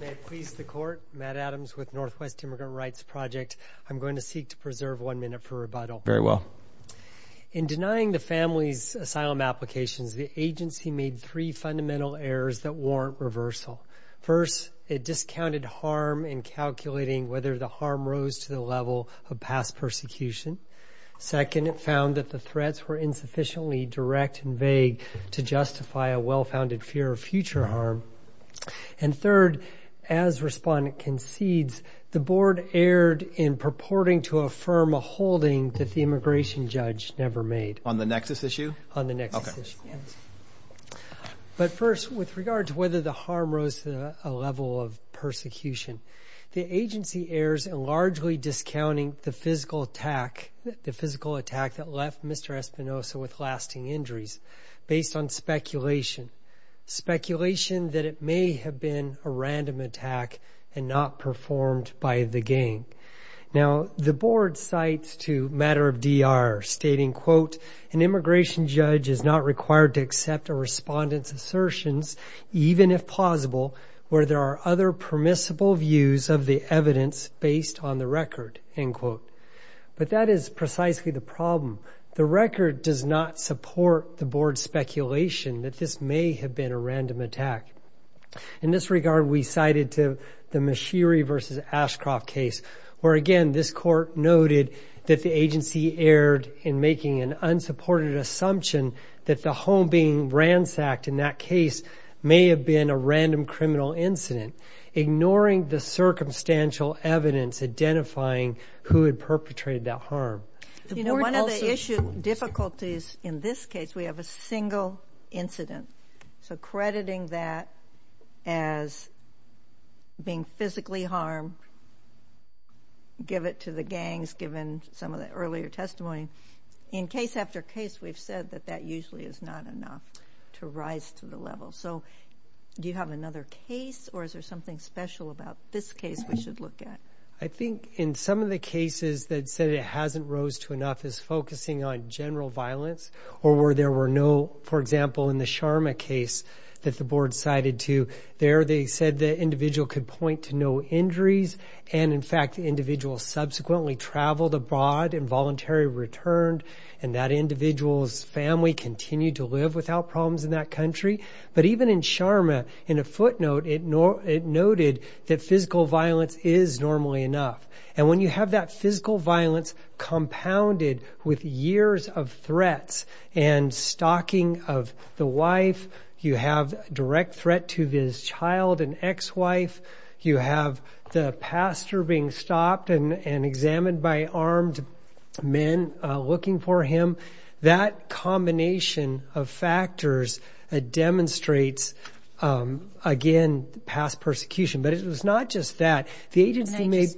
May it please the court, Matt Adams with Northwest Immigrant Rights Project. I'm going to seek to preserve one minute for rebuttal. Very well. In denying the family's asylum applications, the agency made three fundamental errors that warrant reversal. First, it discounted harm in calculating whether the harm rose to the level of past persecution. Second, it found that the threats were insufficiently direct and vague to justify a well-founded fear of future harm. And third, as respondent concedes, the board erred in purporting to affirm a holding that the immigration judge never made. On the nexus issue? On the nexus issue. But first, with regard to whether the harm rose to a level of persecution, the agency errs in largely discounting the physical attack, the physical attack that left Mr. Espinoza with lasting injuries based on speculation. Speculation that it may have been a random attack and not performed by the gang. Now, the board cites to Matter of DR stating, quote, an immigration judge is not required to accept a respondent's assertions, even if plausible, where there are other permissible views of the evidence based on the record, end quote. But that is precisely the problem. The record does not support the board's speculation that this may have been a random attack. In this regard, we cited to the Mashiri versus Ashcroft case, where again, this court noted that the agency erred in making an unsupported assumption that the home being ransacked in that case may have been a random criminal incident, ignoring the circumstantial evidence identifying who had perpetrated that harm. You know, one of the issue difficulties in this case, we have a single incident. So crediting that as being physically harmed, give it to the gangs, given some of the earlier testimony. In case after case, we've said that that usually is not enough to rise to the level. So do you have another case or is there something special about this case we should look at? I said it hasn't rose to enough is focusing on general violence or where there were no, for example, in the Sharma case that the board cited to there, they said the individual could point to no injuries. And in fact, individuals subsequently traveled abroad involuntary returned, and that individual's family continued to live without problems in that country. But even in Sharma, in a footnote, it nor it noted that physical violence is normally enough. And when you have that physical violence compounded with years of threats and stalking of the wife, you have direct threat to his child and ex-wife. You have the pastor being stopped and examined by armed men looking for him. That combination of factors demonstrates, again, past persecution. But it was not just that the agency made.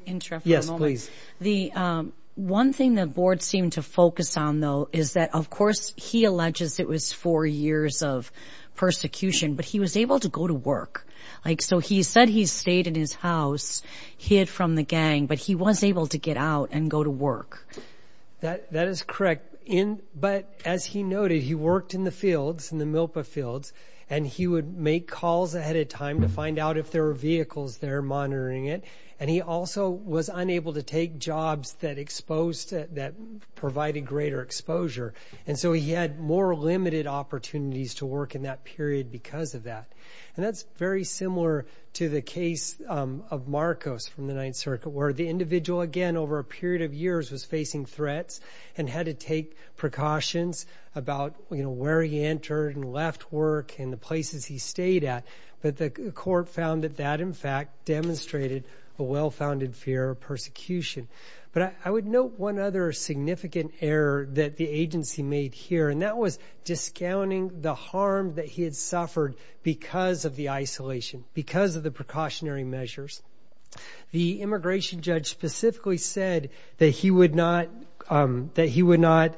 Yes, please. The one thing the board seemed to focus on, though, is that, of course, he alleges it was four years of persecution, but he was able to go to work. Like so he said he stayed in his house, hid from the gang, but he was able to get out and go to work. That is correct. But as he noted, he worked in the fields, in the Milpa fields, and he would make calls ahead of time to find out if there were vehicles there monitoring it. And he also was unable to take jobs that exposed that provided greater exposure. And so he had more limited opportunities to work in that period because of that. And that's very similar to the case of Marcos from the Ninth Circuit, where the individual again over a period of years was facing threats and had to take precautions about where he entered and left work in the places he stayed at. But the court found that that, in fact, demonstrated a well-founded fear of persecution. But I would note one other significant error that the agency made here, and that was discounting the harm that he had suffered because of the isolation, because of the precautionary measures. The immigration judge specifically said that he would not, that he would not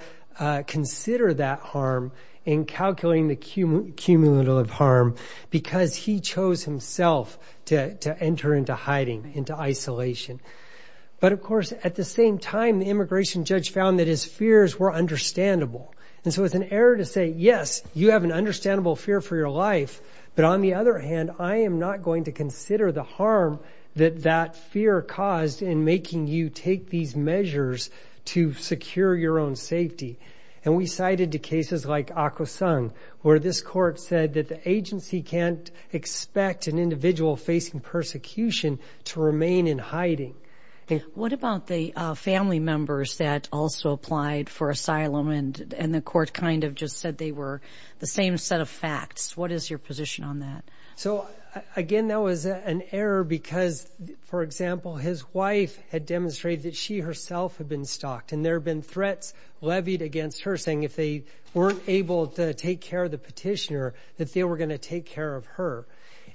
consider that harm in calculating the cumulative harm because he chose himself to enter into hiding, into isolation. But of course, at the same time, the immigration judge found that his fears were understandable. And so it's an error to say, yes, you have an understandable fear for your life. But on the other hand, I am not going to consider the harm that that fear caused in making you take these measures to secure your own safety. And we cited the cases like Akwesasne, where this court said that the agency can't expect an individual facing persecution to remain in hiding. What about the family members that also applied for asylum and and the court kind of just said they were the same set of facts? What is your position on that? So again, that was an error because, for example, his wife had demonstrated that she herself had been stalked and there have been threats levied against her saying if they weren't able to take care of the petitioner, that they were going to take care of her.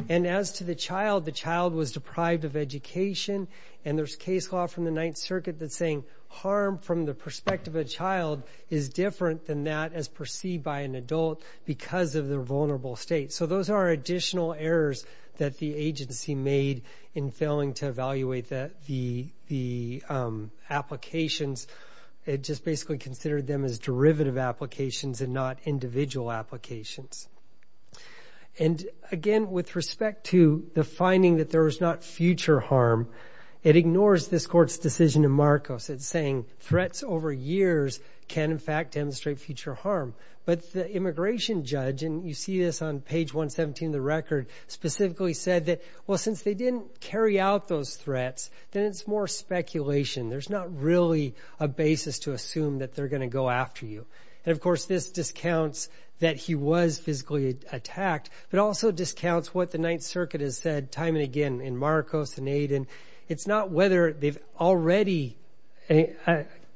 And as to the child, the child was deprived of education. And there's case law from the Ninth Circuit that's saying harm from the perspective of a child is different than that as perceived by an adult because of their vulnerable state. So those are additional errors that the agency made in failing to evaluate the applications. It just basically considered them as derivative applications and not individual applications. And again, with respect to the finding that there is not future harm, it ignores this court's decision in Marcos. It's saying threats over years can, in fact, demonstrate future harm. But the immigration judge, and you see this on page 117 of the record, specifically said that, well, since they didn't carry out those threats, then it's more speculation. There's not really a basis to assume that they're going to go after you. And of course, this discounts that he was physically attacked, but also discounts what the Ninth Circuit has said time and again in Marcos and Aiden. It's not whether they've already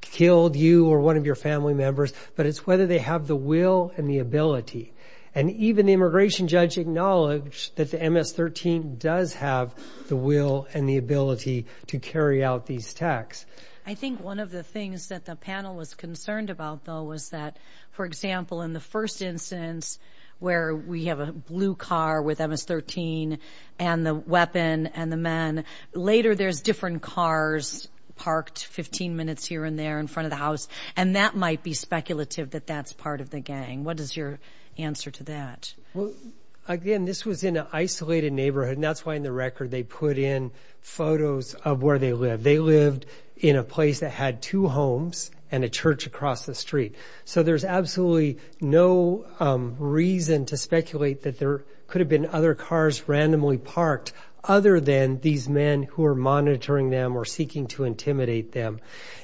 killed you or one of your family members, but it's whether they have the will and the ability. And even the immigration judge acknowledged that the MS-13 does have the will and the ability to carry out these attacks. I think one of the things that the panel was concerned about, though, was that, for example, in the first instance, where we have a blue car with MS-13 and the weapon and the men, later, there's different cars parked 15 minutes here and there in front of the house. And that might be speculative that that's part of the gang. What is your answer to that? Well, again, this was in an isolated neighborhood, and that's why in the record they put in photos of where they live. They lived in a place that had two homes and a church across the street. So there's absolutely no reason to speculate that there could have been other cars randomly parked other than these men who are monitoring them or seeking to intimidate them.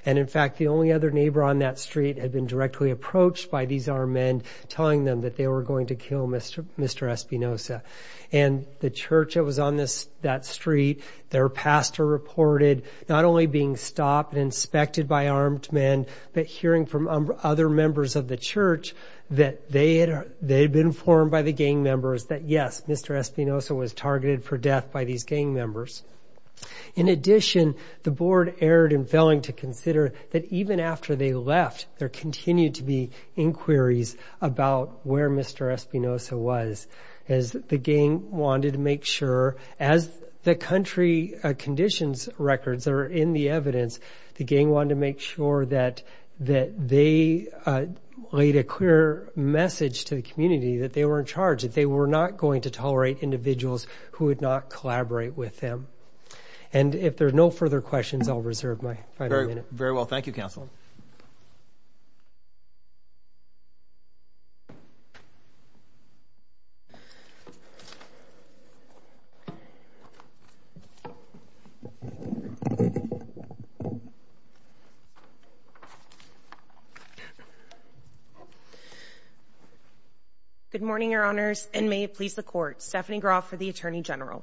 And in fact, the only other neighbor on that street had been directly approached by these armed men, telling them that they were going to kill Mr. Espinosa. And the church that was on that street, their pastor reported not only being stopped and inspected by armed men, but hearing from other members of the church that they had been informed by the gang members that, yes, Mr. Espinosa was targeted for death by these gang members. In addition, the board erred in failing to consider that even after they left, there continued to be inquiries about where Mr. Espinosa was, as the gang wanted to make sure as the country conditions records are in the evidence, the gang wanted to make sure that they laid a clear message to the community that they were in charge, that they were not going to tolerate individuals who would not collaborate with them. And if there are no further questions, I'll reserve my final minute. Very well. Thank you, Counsel. Good morning, Your Honors, and may it please the court. Stephanie Groff for the Attorney General.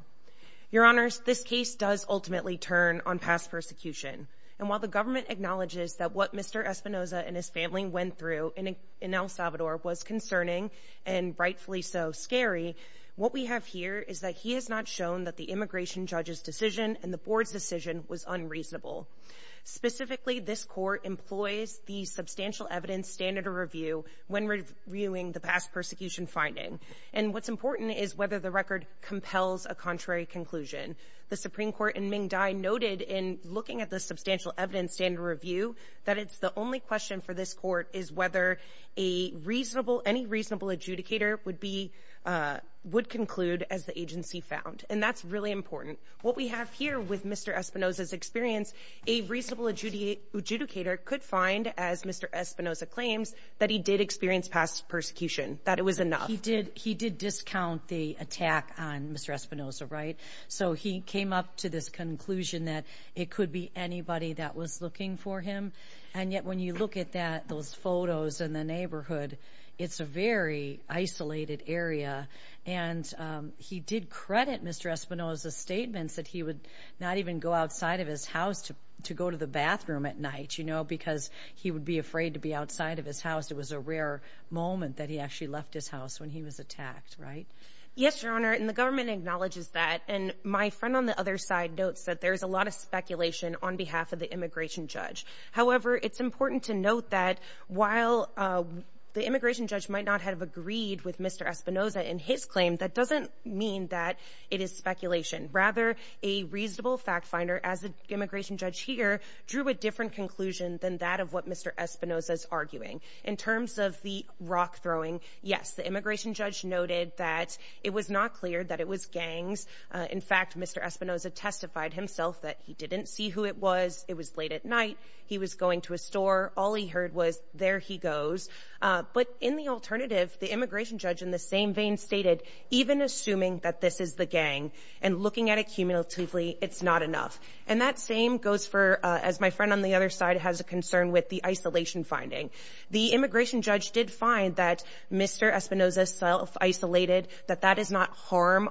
Your Honors, this case does ultimately turn on past persecution. And while the government acknowledges that what Mr. Espinosa and his family went through in El Salvador was concerning and rightfully so scary, what we have here is that he has not shown that the immigration judge's decision and the board's decision was unreasonable. Specifically, this court employs the substantial evidence standard of review when reviewing the past persecution finding. And what's important is whether the record compels a contrary conclusion. The Supreme Court in Ming Dai noted in looking at the substantial evidence standard review that it's the only question for this court is whether any reasonable adjudicator would conclude as the agency found. And that's really important. What we have here with Mr. Espinosa's experience, a reasonable adjudicator could find, as Mr. Espinosa claims, that he did experience past persecution, that it was enough. He did. He did discount the attack on Mr. Espinosa, right? So he came up to this conclusion that it could be anybody that was looking for him. And yet, when you look at those photos in the neighborhood, it's a very isolated area. And he did credit Mr. Espinosa's statements that he would not even go outside of his house to go to the bathroom at night, you know, because he would be afraid to be outside of his house. It was a rare moment that he actually left his house when he was attacked, right? Yes, Your Honor. And the government acknowledges that. And my friend on the other side notes that there's a lot of speculation on behalf of the immigration judge. However, it's important to note that while the immigration judge might not have agreed with Mr. Espinosa in his claim, that doesn't mean that it is speculation. Rather, a reasonable fact finder, as the immigration judge here, drew a different conclusion than that of what Mr. Espinosa's arguing. In terms of the rock-throwing, yes, the immigration judge noted that it was not clear that it was gangs. In fact, Mr. Espinosa testified himself that he didn't see who it was. It was late at night. He was going to a store. All he heard was, there he goes. But in the alternative, the immigration judge, in the same vein, stated, even assuming that this is the gang and looking at it cumulatively, it's not enough. And that same goes for, as my friend on the other side has a concern with, the isolation finding. The immigration judge did find that Mr. Espinosa self-isolated, that that is not harm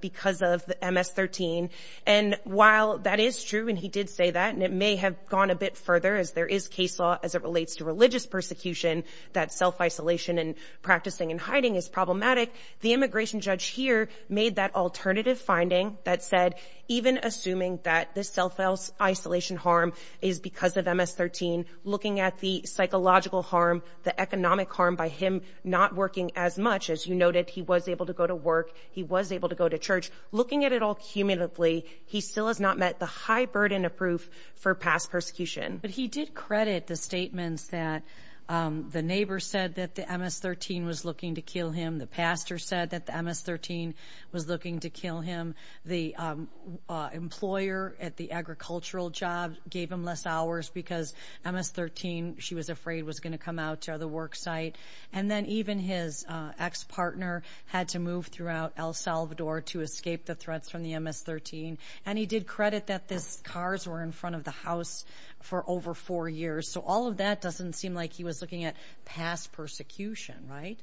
because of the MS-13. And while that is true, and he did say that, and it may have gone a bit further as there is case law as it relates to religious persecution, that self-isolation and practicing and hiding is problematic, the immigration judge here made that alternative finding that said, even assuming that this self-isolation harm is because of MS-13, looking at the psychological harm, the economic harm by him not working as much, as you noted, he was able to go to work, he was able to go to church, looking at it all cumulatively, he still has not met the high burden of proof for past persecution. But he did credit the statements that the neighbor said that the MS-13 was looking to kill him, the pastor said that the MS-13 was looking to kill him, the employer at the agricultural job gave him less hours because MS-13, she was afraid, was going to come out to the work site. And then even his ex-partner had to move throughout El Salvador to escape the threats from the MS-13. And he did credit that this cars were in front of the house for over four years. So all of that doesn't seem like he was looking at past persecution, right?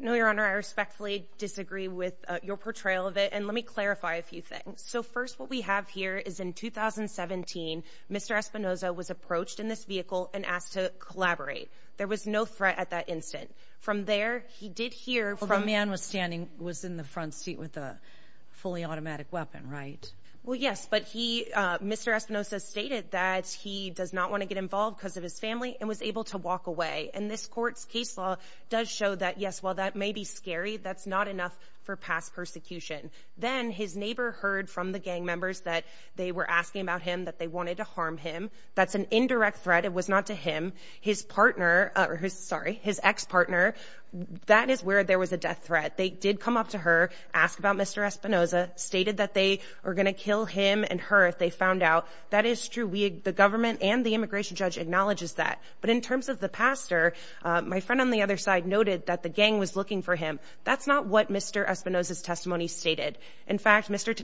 No, Your Honor, I respectfully disagree with your portrayal of it. And let me clarify a few things. So first, what we have here is in 2017, Mr. Espinoza was approached in this vehicle and asked to collaborate. There was no threat at that instant. From there, he did hear from... The man was standing, was in the front seat with a fully automatic weapon, right? Well, yes, but he, Mr. Espinoza stated that he does not want to get involved because of his family and was able to walk away. And this court's case law does show that, yes, well, that may be scary. That's not enough for past persecution. Then his neighbor heard from the gang members that they were asking about him, that they wanted to harm him. That's an indirect threat. It was not to him. His partner, sorry, his ex-partner, that is where there was a death threat. They did come up to her, asked about Mr. Espinoza, stated that they are going to kill him and her if they found out. That is true. The government and the immigration judge acknowledges that. But in terms of the pastor, my friend on the other side noted that the gang was looking for him. That's not what Mr. Espinoza's testimony stated. In fact, Mr.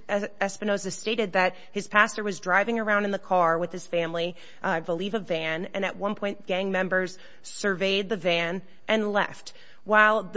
Espinoza stated that his pastor was driving around in the car with his family, I believe a van, and at one point gang members surveyed the van and left. While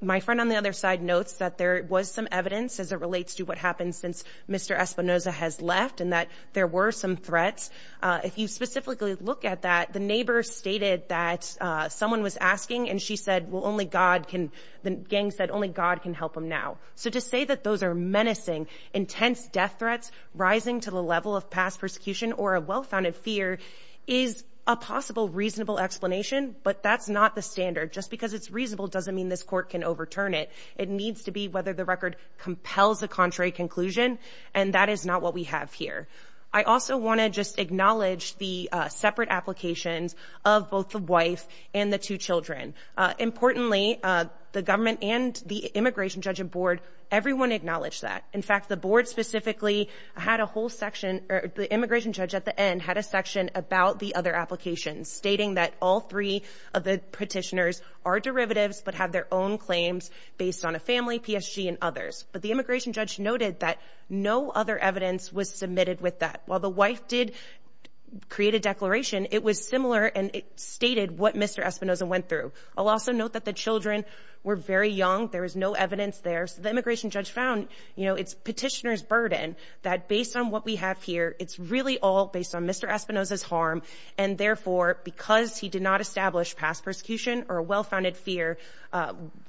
my friend on the other side notes that there was some evidence as it relates to what happened since Mr. Espinoza has left and that there were some threats. If you specifically look at that, the neighbor stated that someone was asking and she said, Well, only God can. The gang said only God can help him now. So to say that those are menacing, intense death threats rising to the level of past persecution or a well founded fear is a possible reasonable explanation. But that's not the standard. Just because it's reasonable doesn't mean this court can overturn it. It needs to be whether the record compels the contrary conclusion, and that is not what we have here. I also want to just acknowledge the separate applications of both the wife and the two Children. Importantly, the government and the immigration judge and board, everyone acknowledged that. In fact, the board specifically had a whole section. The immigration judge at the end had a section about the other applications, stating that all three of the petitioners are derivatives but have their own claims based on a family, P. S. G. And others. But the immigration judge noted that no other evidence was submitted with that. While the wife did create a declaration, it was similar, and it stated what Mr Espinoza went through. I'll also note that the Children were very young. There is no evidence there. So the immigration judge found, you know, it's petitioners burden that based on what we have here, it's really all based on Mr Espinoza's harm. And therefore, because he did not establish past persecution or a well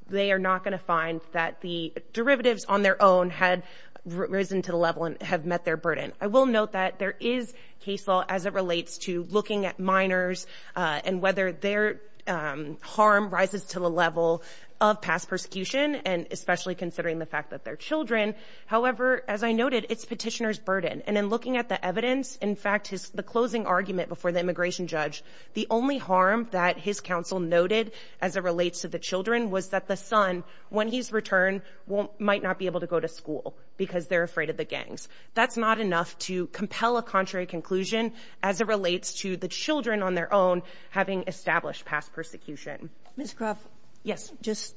they are not going to find that the derivatives on their own had risen to the level and have met their burden. I will note that there is case law as it relates to looking at minors on whether their harm rises to the level of past persecution and especially considering the fact that their Children. However, as I noted, it's petitioners burden. And in looking at the evidence, in fact, is the closing argument before the immigration judge. The only harm that his counsel noted as it relates to the Children was that the son when he's returned won't might not be able to go to school because they're afraid of the gangs. That's not enough to compel a contrary conclusion as it relates to the Children on their own, having established past persecution. Miss Croft. Yes, just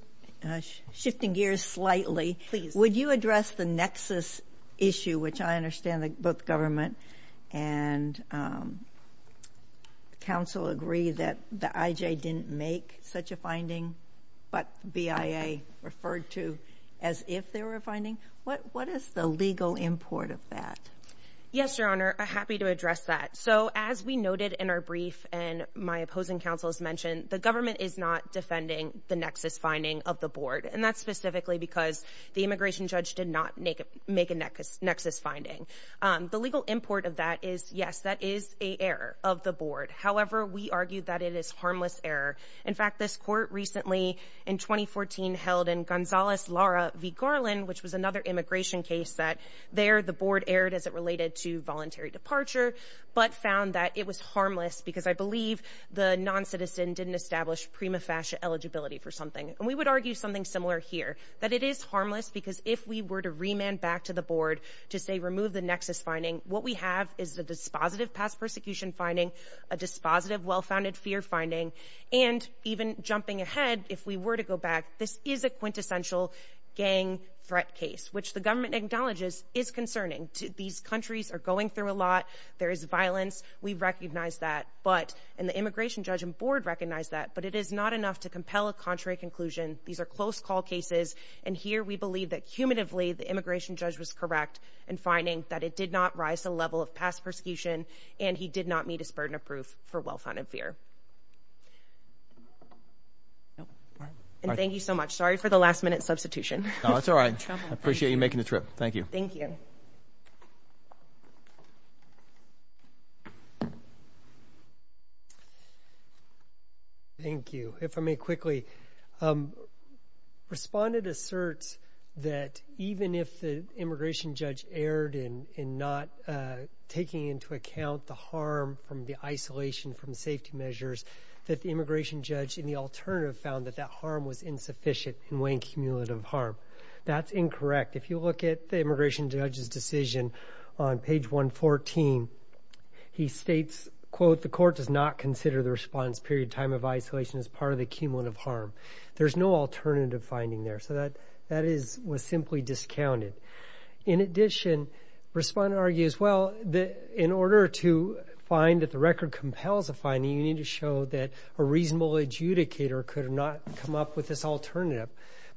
shifting gears slightly, please. Would you address the nexus issue, which I understand that both government and um, counsel agree that the I. J. Didn't make such a finding, but B. I. A. Referred to as if they were finding what? What is the legal import of that? Yes, Your Honor. Happy to address that. So as we noted in our brief and my opposing counsel's mentioned, the government is not defending the nexus finding of the board, and that's specifically because the immigration judge did not make make a nexus nexus finding. Um, the legal import of that is yes, that is a error of the board. However, we argue that it is harmless error. In fact, this court recently in 2014 held in Gonzalez Lara v Garland, which was another immigration case that there the board aired as it related to voluntary departure, but found that it was harmless because I believe the non citizen didn't establish prima facie eligibility for something, and we would argue something similar here that it is harmless because if we were to remand back to the board to say, remove the nexus finding what we have is the dispositive past persecution finding a dispositive, well founded fear finding and even jumping ahead. If we were to go back, this is a quintessential gang threat case, which the government acknowledges is concerning to these countries are going through a lot. There is violence. We recognize that, but and the immigration judge and board recognize that. But it is not enough to compel a contrary conclusion. These air close call cases. And here we believe that cumulatively the immigration judge was correct and finding that it did not rise to level of past persecution, and he did not meet his burden of proof for well founded fear. And thank you so much. Sorry for the last minute substitution. That's all right. Appreciate you making the trip. Thank you. Thank you. Thank you. If I may quickly, um, responded asserts that even if the immigration judge erred in not taking into account the harm from the isolation from safety measures that the immigration judge in the alternative found that that harm was insufficient and weighing cumulative harm. That's correct. If you look at the immigration judge's decision on page 114, he states, quote, The court does not consider the response period time of isolation is part of the cumulative harm. There's no alternative finding there so that that is was simply discounted. In addition, respond, argues. Well, in order to find that the record compels a finding, you need to show that a reasonable adjudicator could have not come up with this alternative.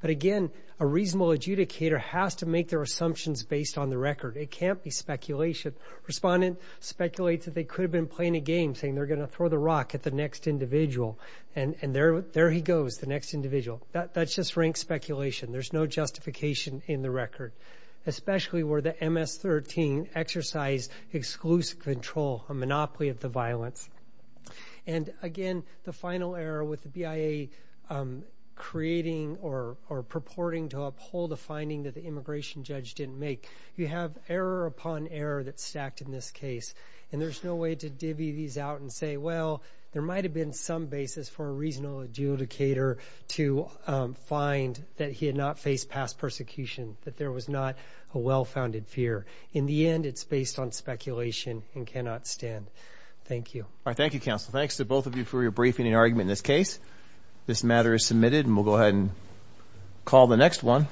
But again, a reasonable adjudicator has to make their assumptions based on the record. It can't be speculation. Respondent speculates that they could have been playing a game saying they're gonna throw the rock at the next individual. And there there he goes. The next individual. That's just rank speculation. There's no justification in the record, especially where the MS 13 exercise exclusive control, a purporting to uphold the finding that the immigration judge didn't make. You have error upon error that stacked in this case, and there's no way to divvy these out and say, Well, there might have been some basis for a reasonable adjudicator to find that he had not faced past persecution, that there was not a well founded fear. In the end, it's based on speculation and cannot stand. Thank you. Thank you, Counsel. Thanks to both of you for your briefing and argument. In this case, this matter is submitted, and we'll go ahead and call the next one.